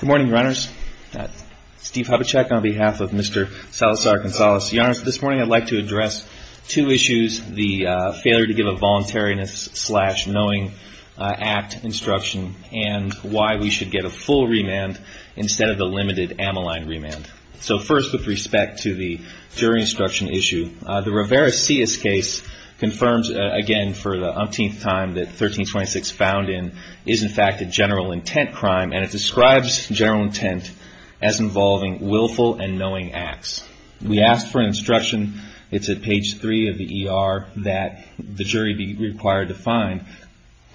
Good morning, runners. Steve Hubachek on behalf of Mr. Salazar-Gonzalez. Your Honor, this morning I'd like to address two issues, the failure to give a voluntariness slash knowing act instruction and why we should get a full remand instead of the limited ammoline remand. So first with respect to the jury instruction issue, the Rivera-Cias case confirms again for the umpteenth time that 1326 found in is in fact a general intent crime and it's describes general intent as involving willful and knowing acts. We asked for instruction, it's at page 3 of the E.R. that the jury be required to find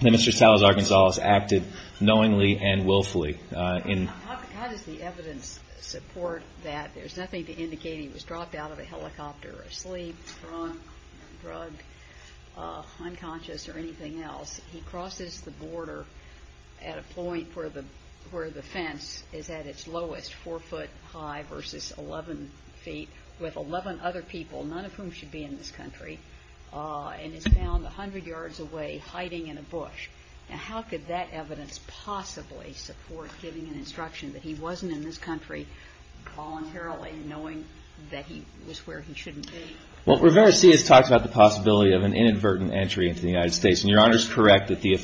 that Mr. Salazar-Gonzalez acted knowingly and willfully. How does the evidence support that? There's nothing to indicate he was dropped out of a helicopter, asleep, drunk, drugged, unconscious or anything else. He crosses the border at a point where the fence is at its lowest, 4 foot high versus 11 feet with 11 other people, none of whom should be in this country, and is found 100 yards away hiding in a bush. Now how could that evidence possibly support giving an instruction that he wasn't in this country voluntarily knowing that he was where he shouldn't be? Well, Rivera-Cias talks about the possibility of an inadvertent entry into the United States, and Your Honor is correct that the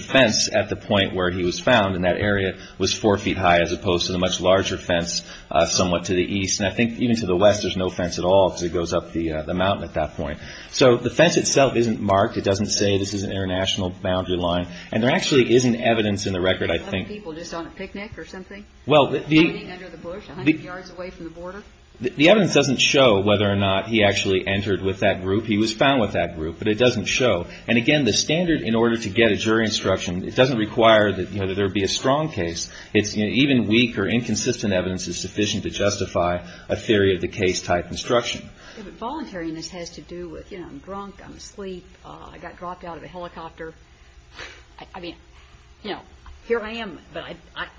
fence at the point where he was found in that area was 4 feet high as opposed to the much larger fence somewhat to the east. And I think even to the west there's no fence at all because it goes up the mountain at that point. So the fence itself isn't marked. It doesn't say this is an international boundary line. And there actually isn't evidence in the record, I think. Other people just on a picnic or something? Hiding under the bush 100 yards away from the border? The evidence doesn't show whether or not he actually entered with that group. He was found with that group, but it doesn't show. And again, the standard in order to get a jury instruction, it doesn't require that there be a strong case. It's even weak or inconsistent evidence is sufficient to justify a theory of the case type instruction. Voluntariness has to do with, you know, I'm drunk, I'm asleep, I got dropped out of a helicopter. I mean, you know, here I am, but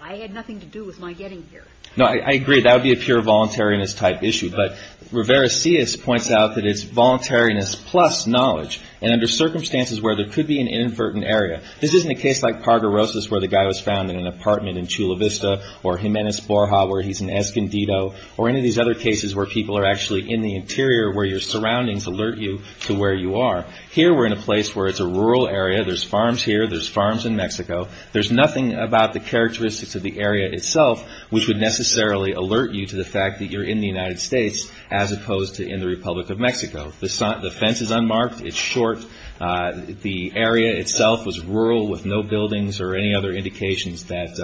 I had nothing to do with my getting here. No, I agree. That would be a pure voluntariness type issue. But Rivera-Sias points out that it's voluntariness plus knowledge. And under circumstances where there could be an inadvertent area. This isn't a case like Parguerosa's where the guy was found in an apartment in Chula Vista or Jimenez Borja where he's in Escondido or any of these other cases where people are actually in the interior where your surroundings alert you to where you are. Here we're in a place where it's a rural area. There's farms here. There's farms in Mexico. There's nothing about the characteristics of the area itself which would necessarily alert you to the fact that you're in the United States as opposed to in the Republic of Mexico. The fence is unmarked. It's short. The area itself was rural with no buildings or any other indications that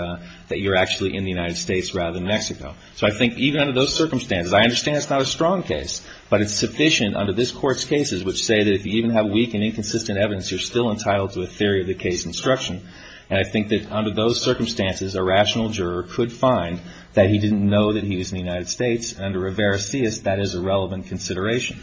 you're actually in the United States rather than Mexico. So I think even under those circumstances, I understand it's not a strong case, but it's sufficient under this Court's cases which say that if you even have weak and inconsistent evidence, you're still entitled to a theory of the case instruction. And I think that under those circumstances, a rational juror could find that he didn't know that he was in the United States. And under Rivera-Sias, that is a relevant consideration.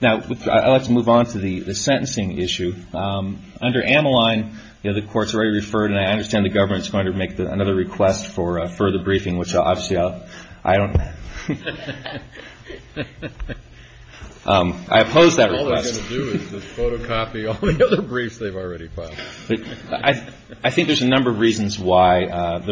Now let's move on to the sentencing issue. Under Ammaline, the Court's already referred and I understand the government's going to make another request for further briefing which obviously I don't... I oppose that request. All they're going to do is photocopy all the other briefs they've already filed. I think there's a number of reasons why the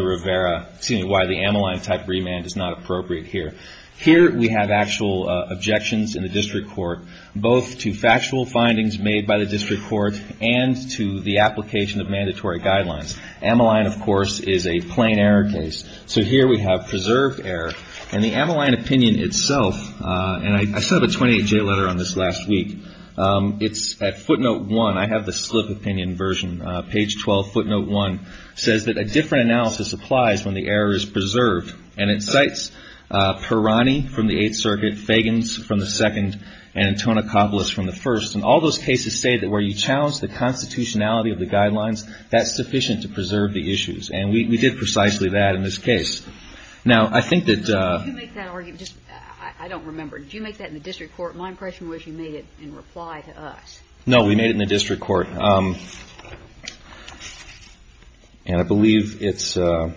Ammaline type remand is not appropriate here. Here we have actual objections in the District Court both to factual findings made by the District Court and to the application of mandatory guidelines. Ammaline, of course, is a plain error case. So here we have preserved error. And the Ammaline opinion itself, and I still have a 28-J letter on this last week. It's at footnote 1. I have the slip opinion version, page 12, footnote 1. It says that a different analysis applies when the error is preserved. And it cites Perrani from the Eighth Circuit, Fagans from the Second, and Antonacopulos from the First. And all those cases say that where you challenge the constitutionality of the guidelines, that's sufficient to preserve the issues. And we did precisely that in this case. I don't remember. Did you make that in the District Court? My impression was you made it in reply to us. No, we made it in the District Court. And I believe it's, I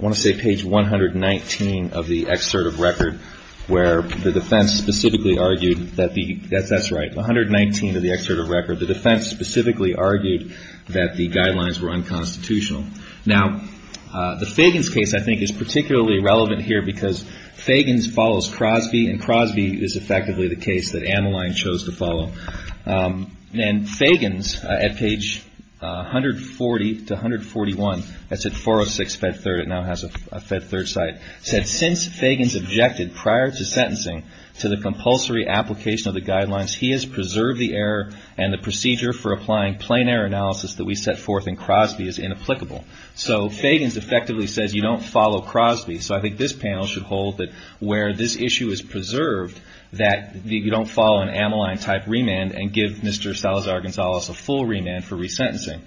want to say page 119 of the excerpt of record, where the defense specifically argued that the, that's right, 119 of the excerpt of record. The defense specifically argued that the guidelines were unconstitutional. Now, the Fagans case, I think, is particularly relevant here because Fagans follows Crosby, and Crosby is effectively the case that Ammaline chose to follow. And Fagans, at page 140 to 141, that's at 406 Fed Third, it now has a Fed Third site, said, since Fagans objected prior to sentencing to the compulsory application of the guidelines, he has preserved the error and the procedure for applying plain error analysis that we set forth in Crosby is inapplicable. So Fagans effectively says you don't follow Crosby, so I think this panel should hold that where this issue is preserved, that you don't follow an Ammaline type remand and give Mr. Salazar-Gonzalez a full remand for resentencing.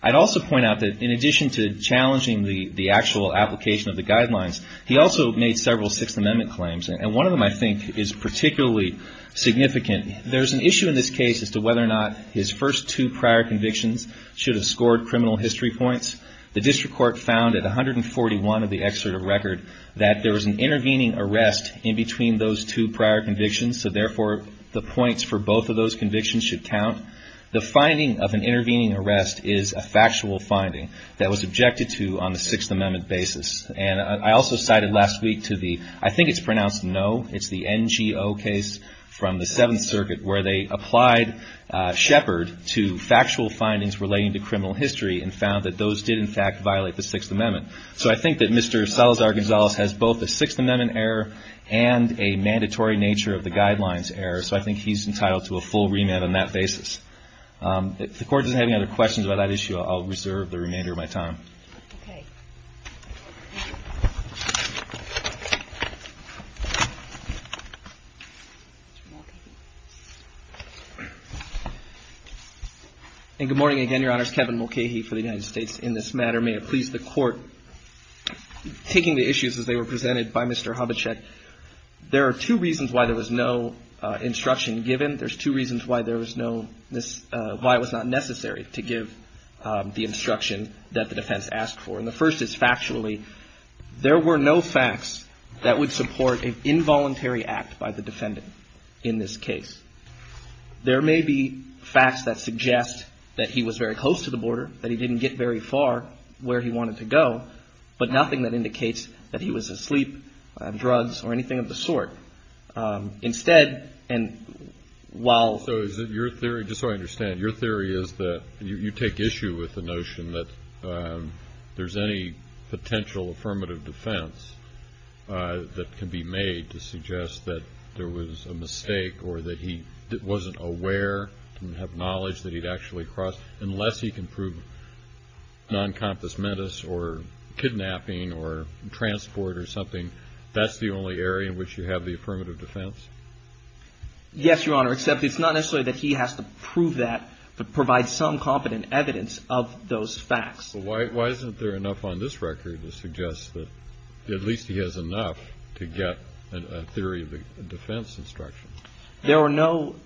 I'd also point out that in addition to challenging the actual application of the guidelines, he also made several Sixth Amendment claims. And one of them, I think, is particularly significant. There's an issue in this case as to whether or not his first two prior convictions should have scored criminal history points. The district court found at 141 of the excerpt of record that there was an intervening arrest in between those two prior convictions, so therefore the points for both of those convictions should count. The finding of an intervening arrest is a factual finding that was objected to on the Sixth Amendment basis. And I also cited last week to the, I think it's pronounced no, it's the NGO case from the Seventh Circuit where they applied Shepard to factual findings relating to criminal history and found that those did in fact violate the Sixth Amendment. So I think that Mr. Salazar-Gonzalez has both a Sixth Amendment error and a mandatory nature of the guidelines error, so I think he's entitled to a full remand on that basis. If the Court doesn't have any other questions about that issue, I'll reserve the remainder of my time. And good morning again, Your Honors. Kevin Mulcahy for the United States in this matter. May it please the Court, taking the issues as they were presented by Mr. Hubachek, there are two reasons why there was no instruction given. There's two reasons why there was no, why it was not necessary to give the instruction that the defense asked for. And the first is factually, there were no facts that would support an involuntary act by the defendant in this case. There may be facts that suggest that he was very close to the border, that he didn't get very far, where he wanted to go, but nothing that indicates that he was asleep, drugs, or anything of the sort. Instead, and while... So is it your theory, just so I understand, your theory is that you take issue with the notion that there's any potential affirmative defense that can be made to suggest that there was a mistake or that he wasn't aware, didn't have knowledge that he'd actually crossed, unless he can prove non-confess mentis or kidnapping or transport or something, that's the only area in which you have the affirmative defense? Yes, Your Honor, except it's not necessarily that he has to prove that, but provide some competent evidence of those facts. Why isn't there enough on this record to suggest that at least he has enough to get a theory of the defense instruction? There were no,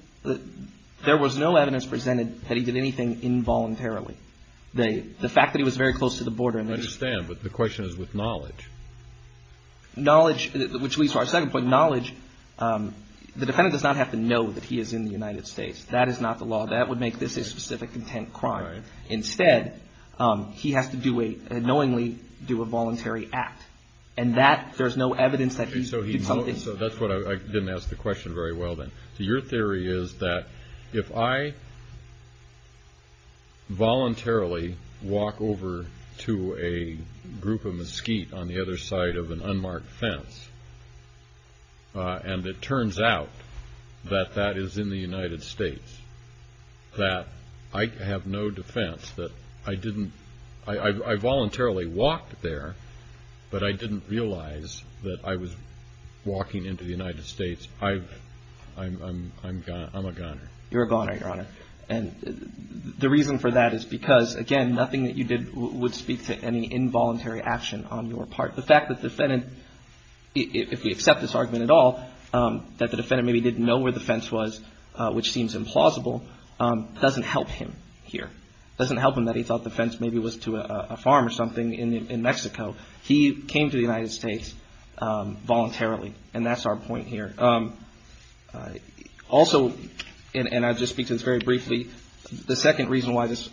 there was no evidence presented that he did anything involuntarily. The fact that he was very close to the border... I understand, but the question is with knowledge. Knowledge, which leads to our second point, knowledge, the defendant does not have to know that he is in the United States. That is not the law. That would make this a specific intent crime. Instead, he has to do a, knowingly, do a voluntary act. And that, there's no evidence that he did something... So that's what I, I didn't ask the question very well then. Your theory is that if I voluntarily walk over to a group of mesquite on the other side of an unmarked fence, and it turns out that that is in the United States, that I have no defense, that I didn't, I voluntarily walked there, but I didn't realize that I was walking into the United States. I'm a goner. You're a goner, Your Honor. And the reason for that is because, again, nothing that you did would speak to any involuntary action on your part. The fact that the defendant, if we accept this argument at all, that the defendant maybe didn't know where the fence was, which seems implausible, doesn't help him here. Doesn't help him that he thought the fence maybe was to a farm or something in Mexico. He came to the United States voluntarily, and that's our point here. Also, and I'll just speak to this very briefly, the second reason why this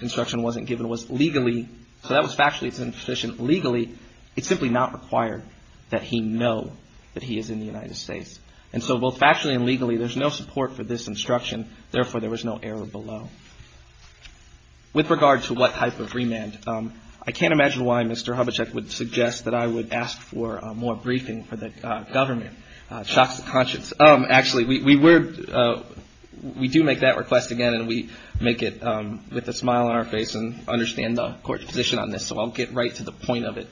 instruction wasn't given was legally, so that was factually insufficient. Legally, it's simply not required that he know that he is in the United States. And so both factually and legally, there's no support for this instruction. Therefore, there was no error below. With regard to what type of remand, I can't imagine why Mr. Hubachek would suggest that I would ask for more briefing for the government. Shocks the conscience. Actually, we do make that request again, and we make it with a smile on our face and understand the Court's position on this, so I'll get right to the point of it.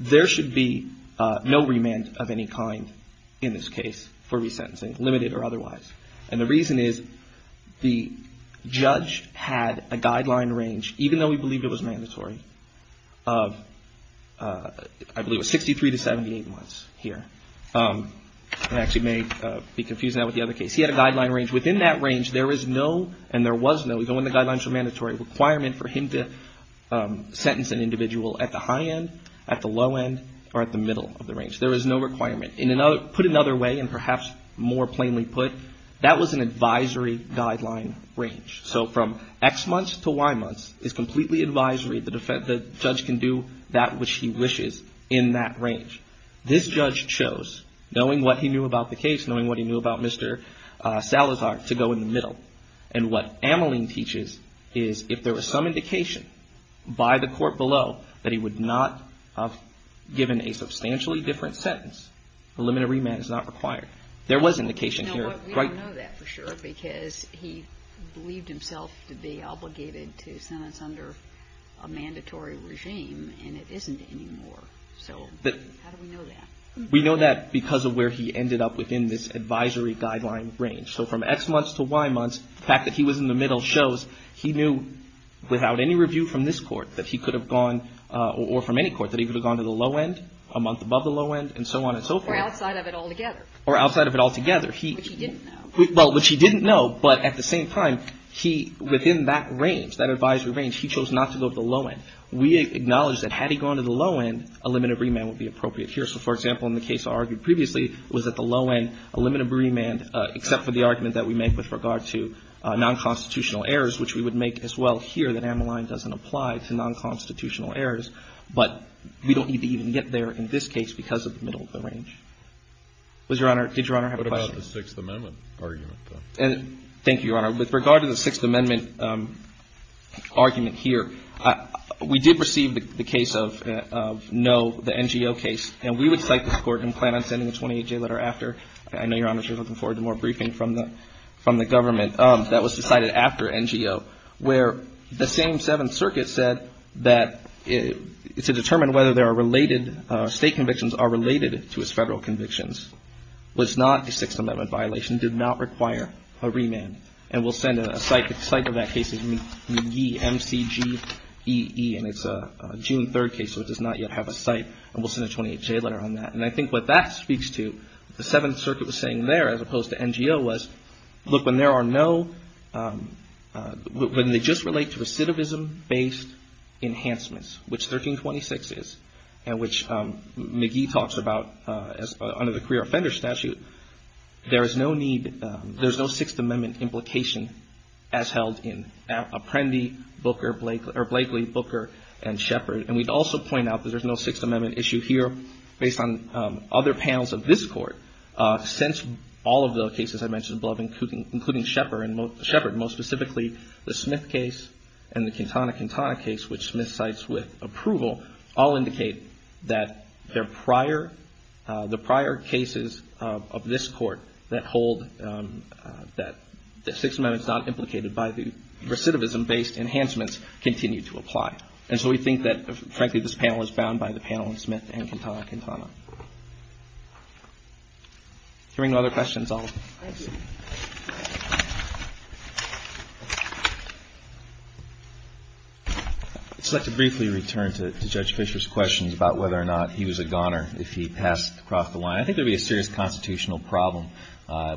There should be no remand of any kind in this case for resentencing, limited or otherwise. And the reason is the judge had a guideline range, even though we believe it was mandatory, of I believe it was 63 to 78 months here. I actually may be confusing that with the other case. He had a guideline range. Within that range, there is no, and there was no, even when the guidelines were mandatory, requirement for him to sentence an individual at the high end, at the low end, or at the middle of the range. There is no requirement. Put another way, and perhaps more plainly put, that was an advisory guideline range. So from X months to Y months is completely advisory. The judge can do that which he wishes in that range. This judge chose, knowing what he knew about the case, knowing what he knew about Mr. Salazar, to go in the middle. And what Ameline teaches is if there was some indication by the Court below that he would not have given a substantially different sentence, a limited remand is not required. There was indication here. But we don't know that for sure because he believed himself to be obligated to sentence under a mandatory regime, and it isn't anymore. So how do we know that? We know that because of where he ended up within this advisory guideline range. So from X months to Y months, the fact that he was in the middle shows he knew without any review from this Court that he could have gone, or from any Court, that he could have gone to the low end, a month above the low end, and so on and so forth. Or outside of it altogether. Or outside of it altogether. Which he didn't know. Well, which he didn't know, but at the same time, within that range, that advisory range, he chose not to go to the low end. We acknowledge that had he gone to the low end, a limited remand would be appropriate here. So, for example, in the case argued previously, was at the low end, a limited remand, except for the argument that we make with regard to nonconstitutional errors, which we would make as well here that Ameline doesn't apply to nonconstitutional errors, but we don't need to even get there in this case because of the middle of the range. Did Your Honor have a question? What about the Sixth Amendment argument, though? Thank you, Your Honor. With regard to the Sixth Amendment argument here, we did receive the case of no, the NGO case, and we would cite this Court and plan on sending a 28-J letter after. I know, Your Honor, you're looking forward to more briefing from the government. That was decided after NGO, where the same Seventh Circuit said that to determine whether there are related State convictions are related to his Federal convictions was not a Sixth Amendment violation, did not require a remand. And we'll send a cite of that case, McGee, M-C-G-E-E, and it's a June 3rd case, so it does not yet have a cite, and we'll send a 28-J letter on that. And I think what that speaks to, what the Seventh Circuit was saying there as opposed to NGO was, look, when there are no, when they just relate to recidivism-based enhancements, which 1326 is, and which McGee talks about under the career offender statute, there is no need, there's no Sixth Amendment implication as held in Apprendi, Booker, or Blakely, Booker, and Shepard. And we'd also point out that there's no Sixth Amendment issue here based on other panels of this Court, since all of the cases I mentioned above, including Shepard, most specifically the Smith case and the Cantana-Cantana case, which Smith cites with approval, all indicate that their prior, the prior cases of this Court that hold that the Sixth Amendment's not implicated by the recidivism-based enhancements continue to apply. And so we think that, frankly, this panel is bound by the panel in Smith and Cantana-Cantana. Hearing no other questions, I'll... I'd just like to briefly return to Judge Fischer's questions about whether or not he was a goner if he passed across the line. I think there'd be a serious constitutional problem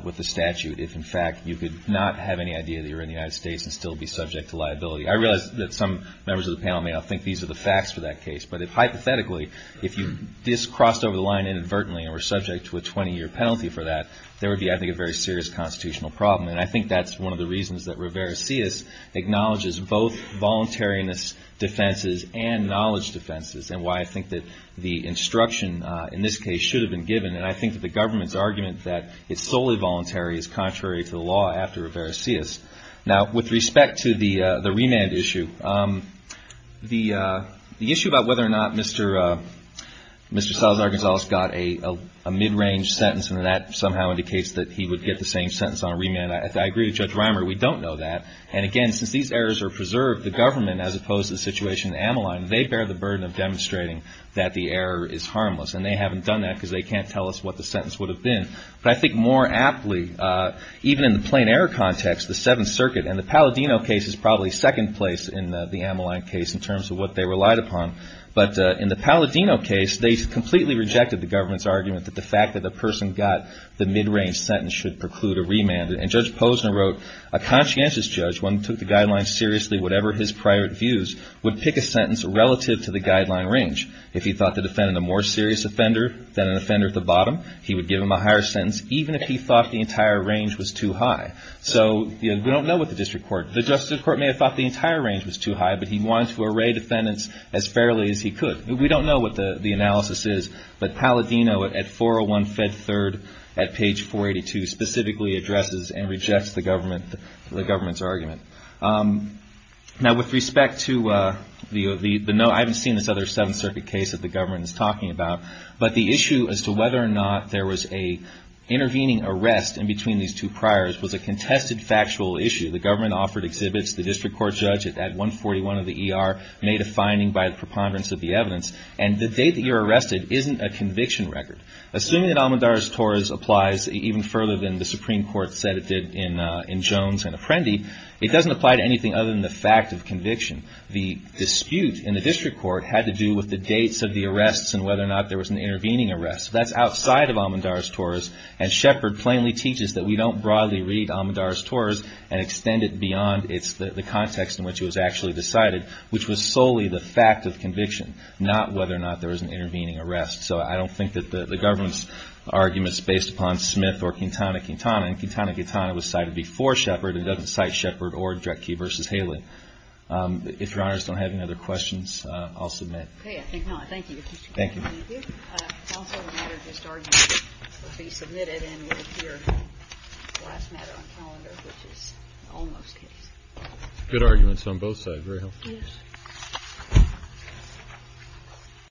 with the statute if, in fact, you could not have any idea that you're in the United States and still be subject to liability. I realize that some members of the panel may not think these are the facts for that case, but hypothetically, if you just crossed over the line inadvertently and were subject to a 20-year penalty for that, there would be, I think, a very serious constitutional problem. And I think that's one of the reasons that Rivera-Sias acknowledges both voluntariness defenses and knowledge defenses, and why I think that the instruction in this case should have been given. And I think that the government's argument that it's solely voluntary is contrary to the law after Rivera-Sias. Now, with respect to the remand issue, the issue about whether or not Mr. Salazar-Gonzalez got a mid-range sentence and that somehow indicates that he would get the same sentence on remand, I agree with Judge Reimer, we don't know that. And, again, since these errors are preserved, the government, as opposed to the situation in Amaline, they bear the burden of demonstrating that the error is harmless. And they haven't done that because they can't tell us what the sentence would have been. But I think more aptly, even in the plain error context, the Seventh Circuit and the Palladino case is probably second place in the Amaline case in terms of what they relied upon. But in the Palladino case, they completely rejected the government's argument that the fact that the person got the mid-range sentence should preclude a remand. And Judge Posner wrote, a conscientious judge, one who took the guidelines seriously, whatever his private views, would pick a sentence relative to the guideline range. If he thought the defendant a more serious offender than an offender at the bottom, he would give him a higher sentence, even if he thought the entire range was too high. So we don't know with the district court. The district court may have thought the entire range was too high, but he wanted to array defendants as fairly as he could. We don't know what the analysis is. But Palladino at 401-Fed-3rd at page 482 specifically addresses and rejects the government's argument. Now, with respect to the note, I haven't seen this other Seventh Circuit case that the government is talking about. But the issue as to whether or not there was an intervening arrest in between these two priors was a contested factual issue. The government offered exhibits. The district court judge at 141 of the ER made a finding by preponderance of the evidence. And the date that you're arrested isn't a conviction record. Assuming that Amandaris-Torres applies even further than the Supreme Court said it did in Jones and Apprendi, it doesn't apply to anything other than the fact of conviction. The dispute in the district court had to do with the dates of the arrests and whether or not there was an intervening arrest. That's outside of Amandaris-Torres. And Shepard plainly teaches that we don't broadly read Amandaris-Torres and extend it beyond the context in which it was actually decided, which was solely the fact of conviction, not whether or not there was an intervening arrest. So I don't think that the government's argument is based upon Smith or Quintana Quintana. And Quintana Quintana was cited before Shepard and doesn't cite Shepard or Dretke v. Haley. If Your Honors don't have any other questions, I'll submit. Okay, I think not. Thank you. Thank you. Counsel, the matter of this argument will be submitted and will appear last matter on calendar, which is the Olmos case. Good arguments on both sides. Very helpful.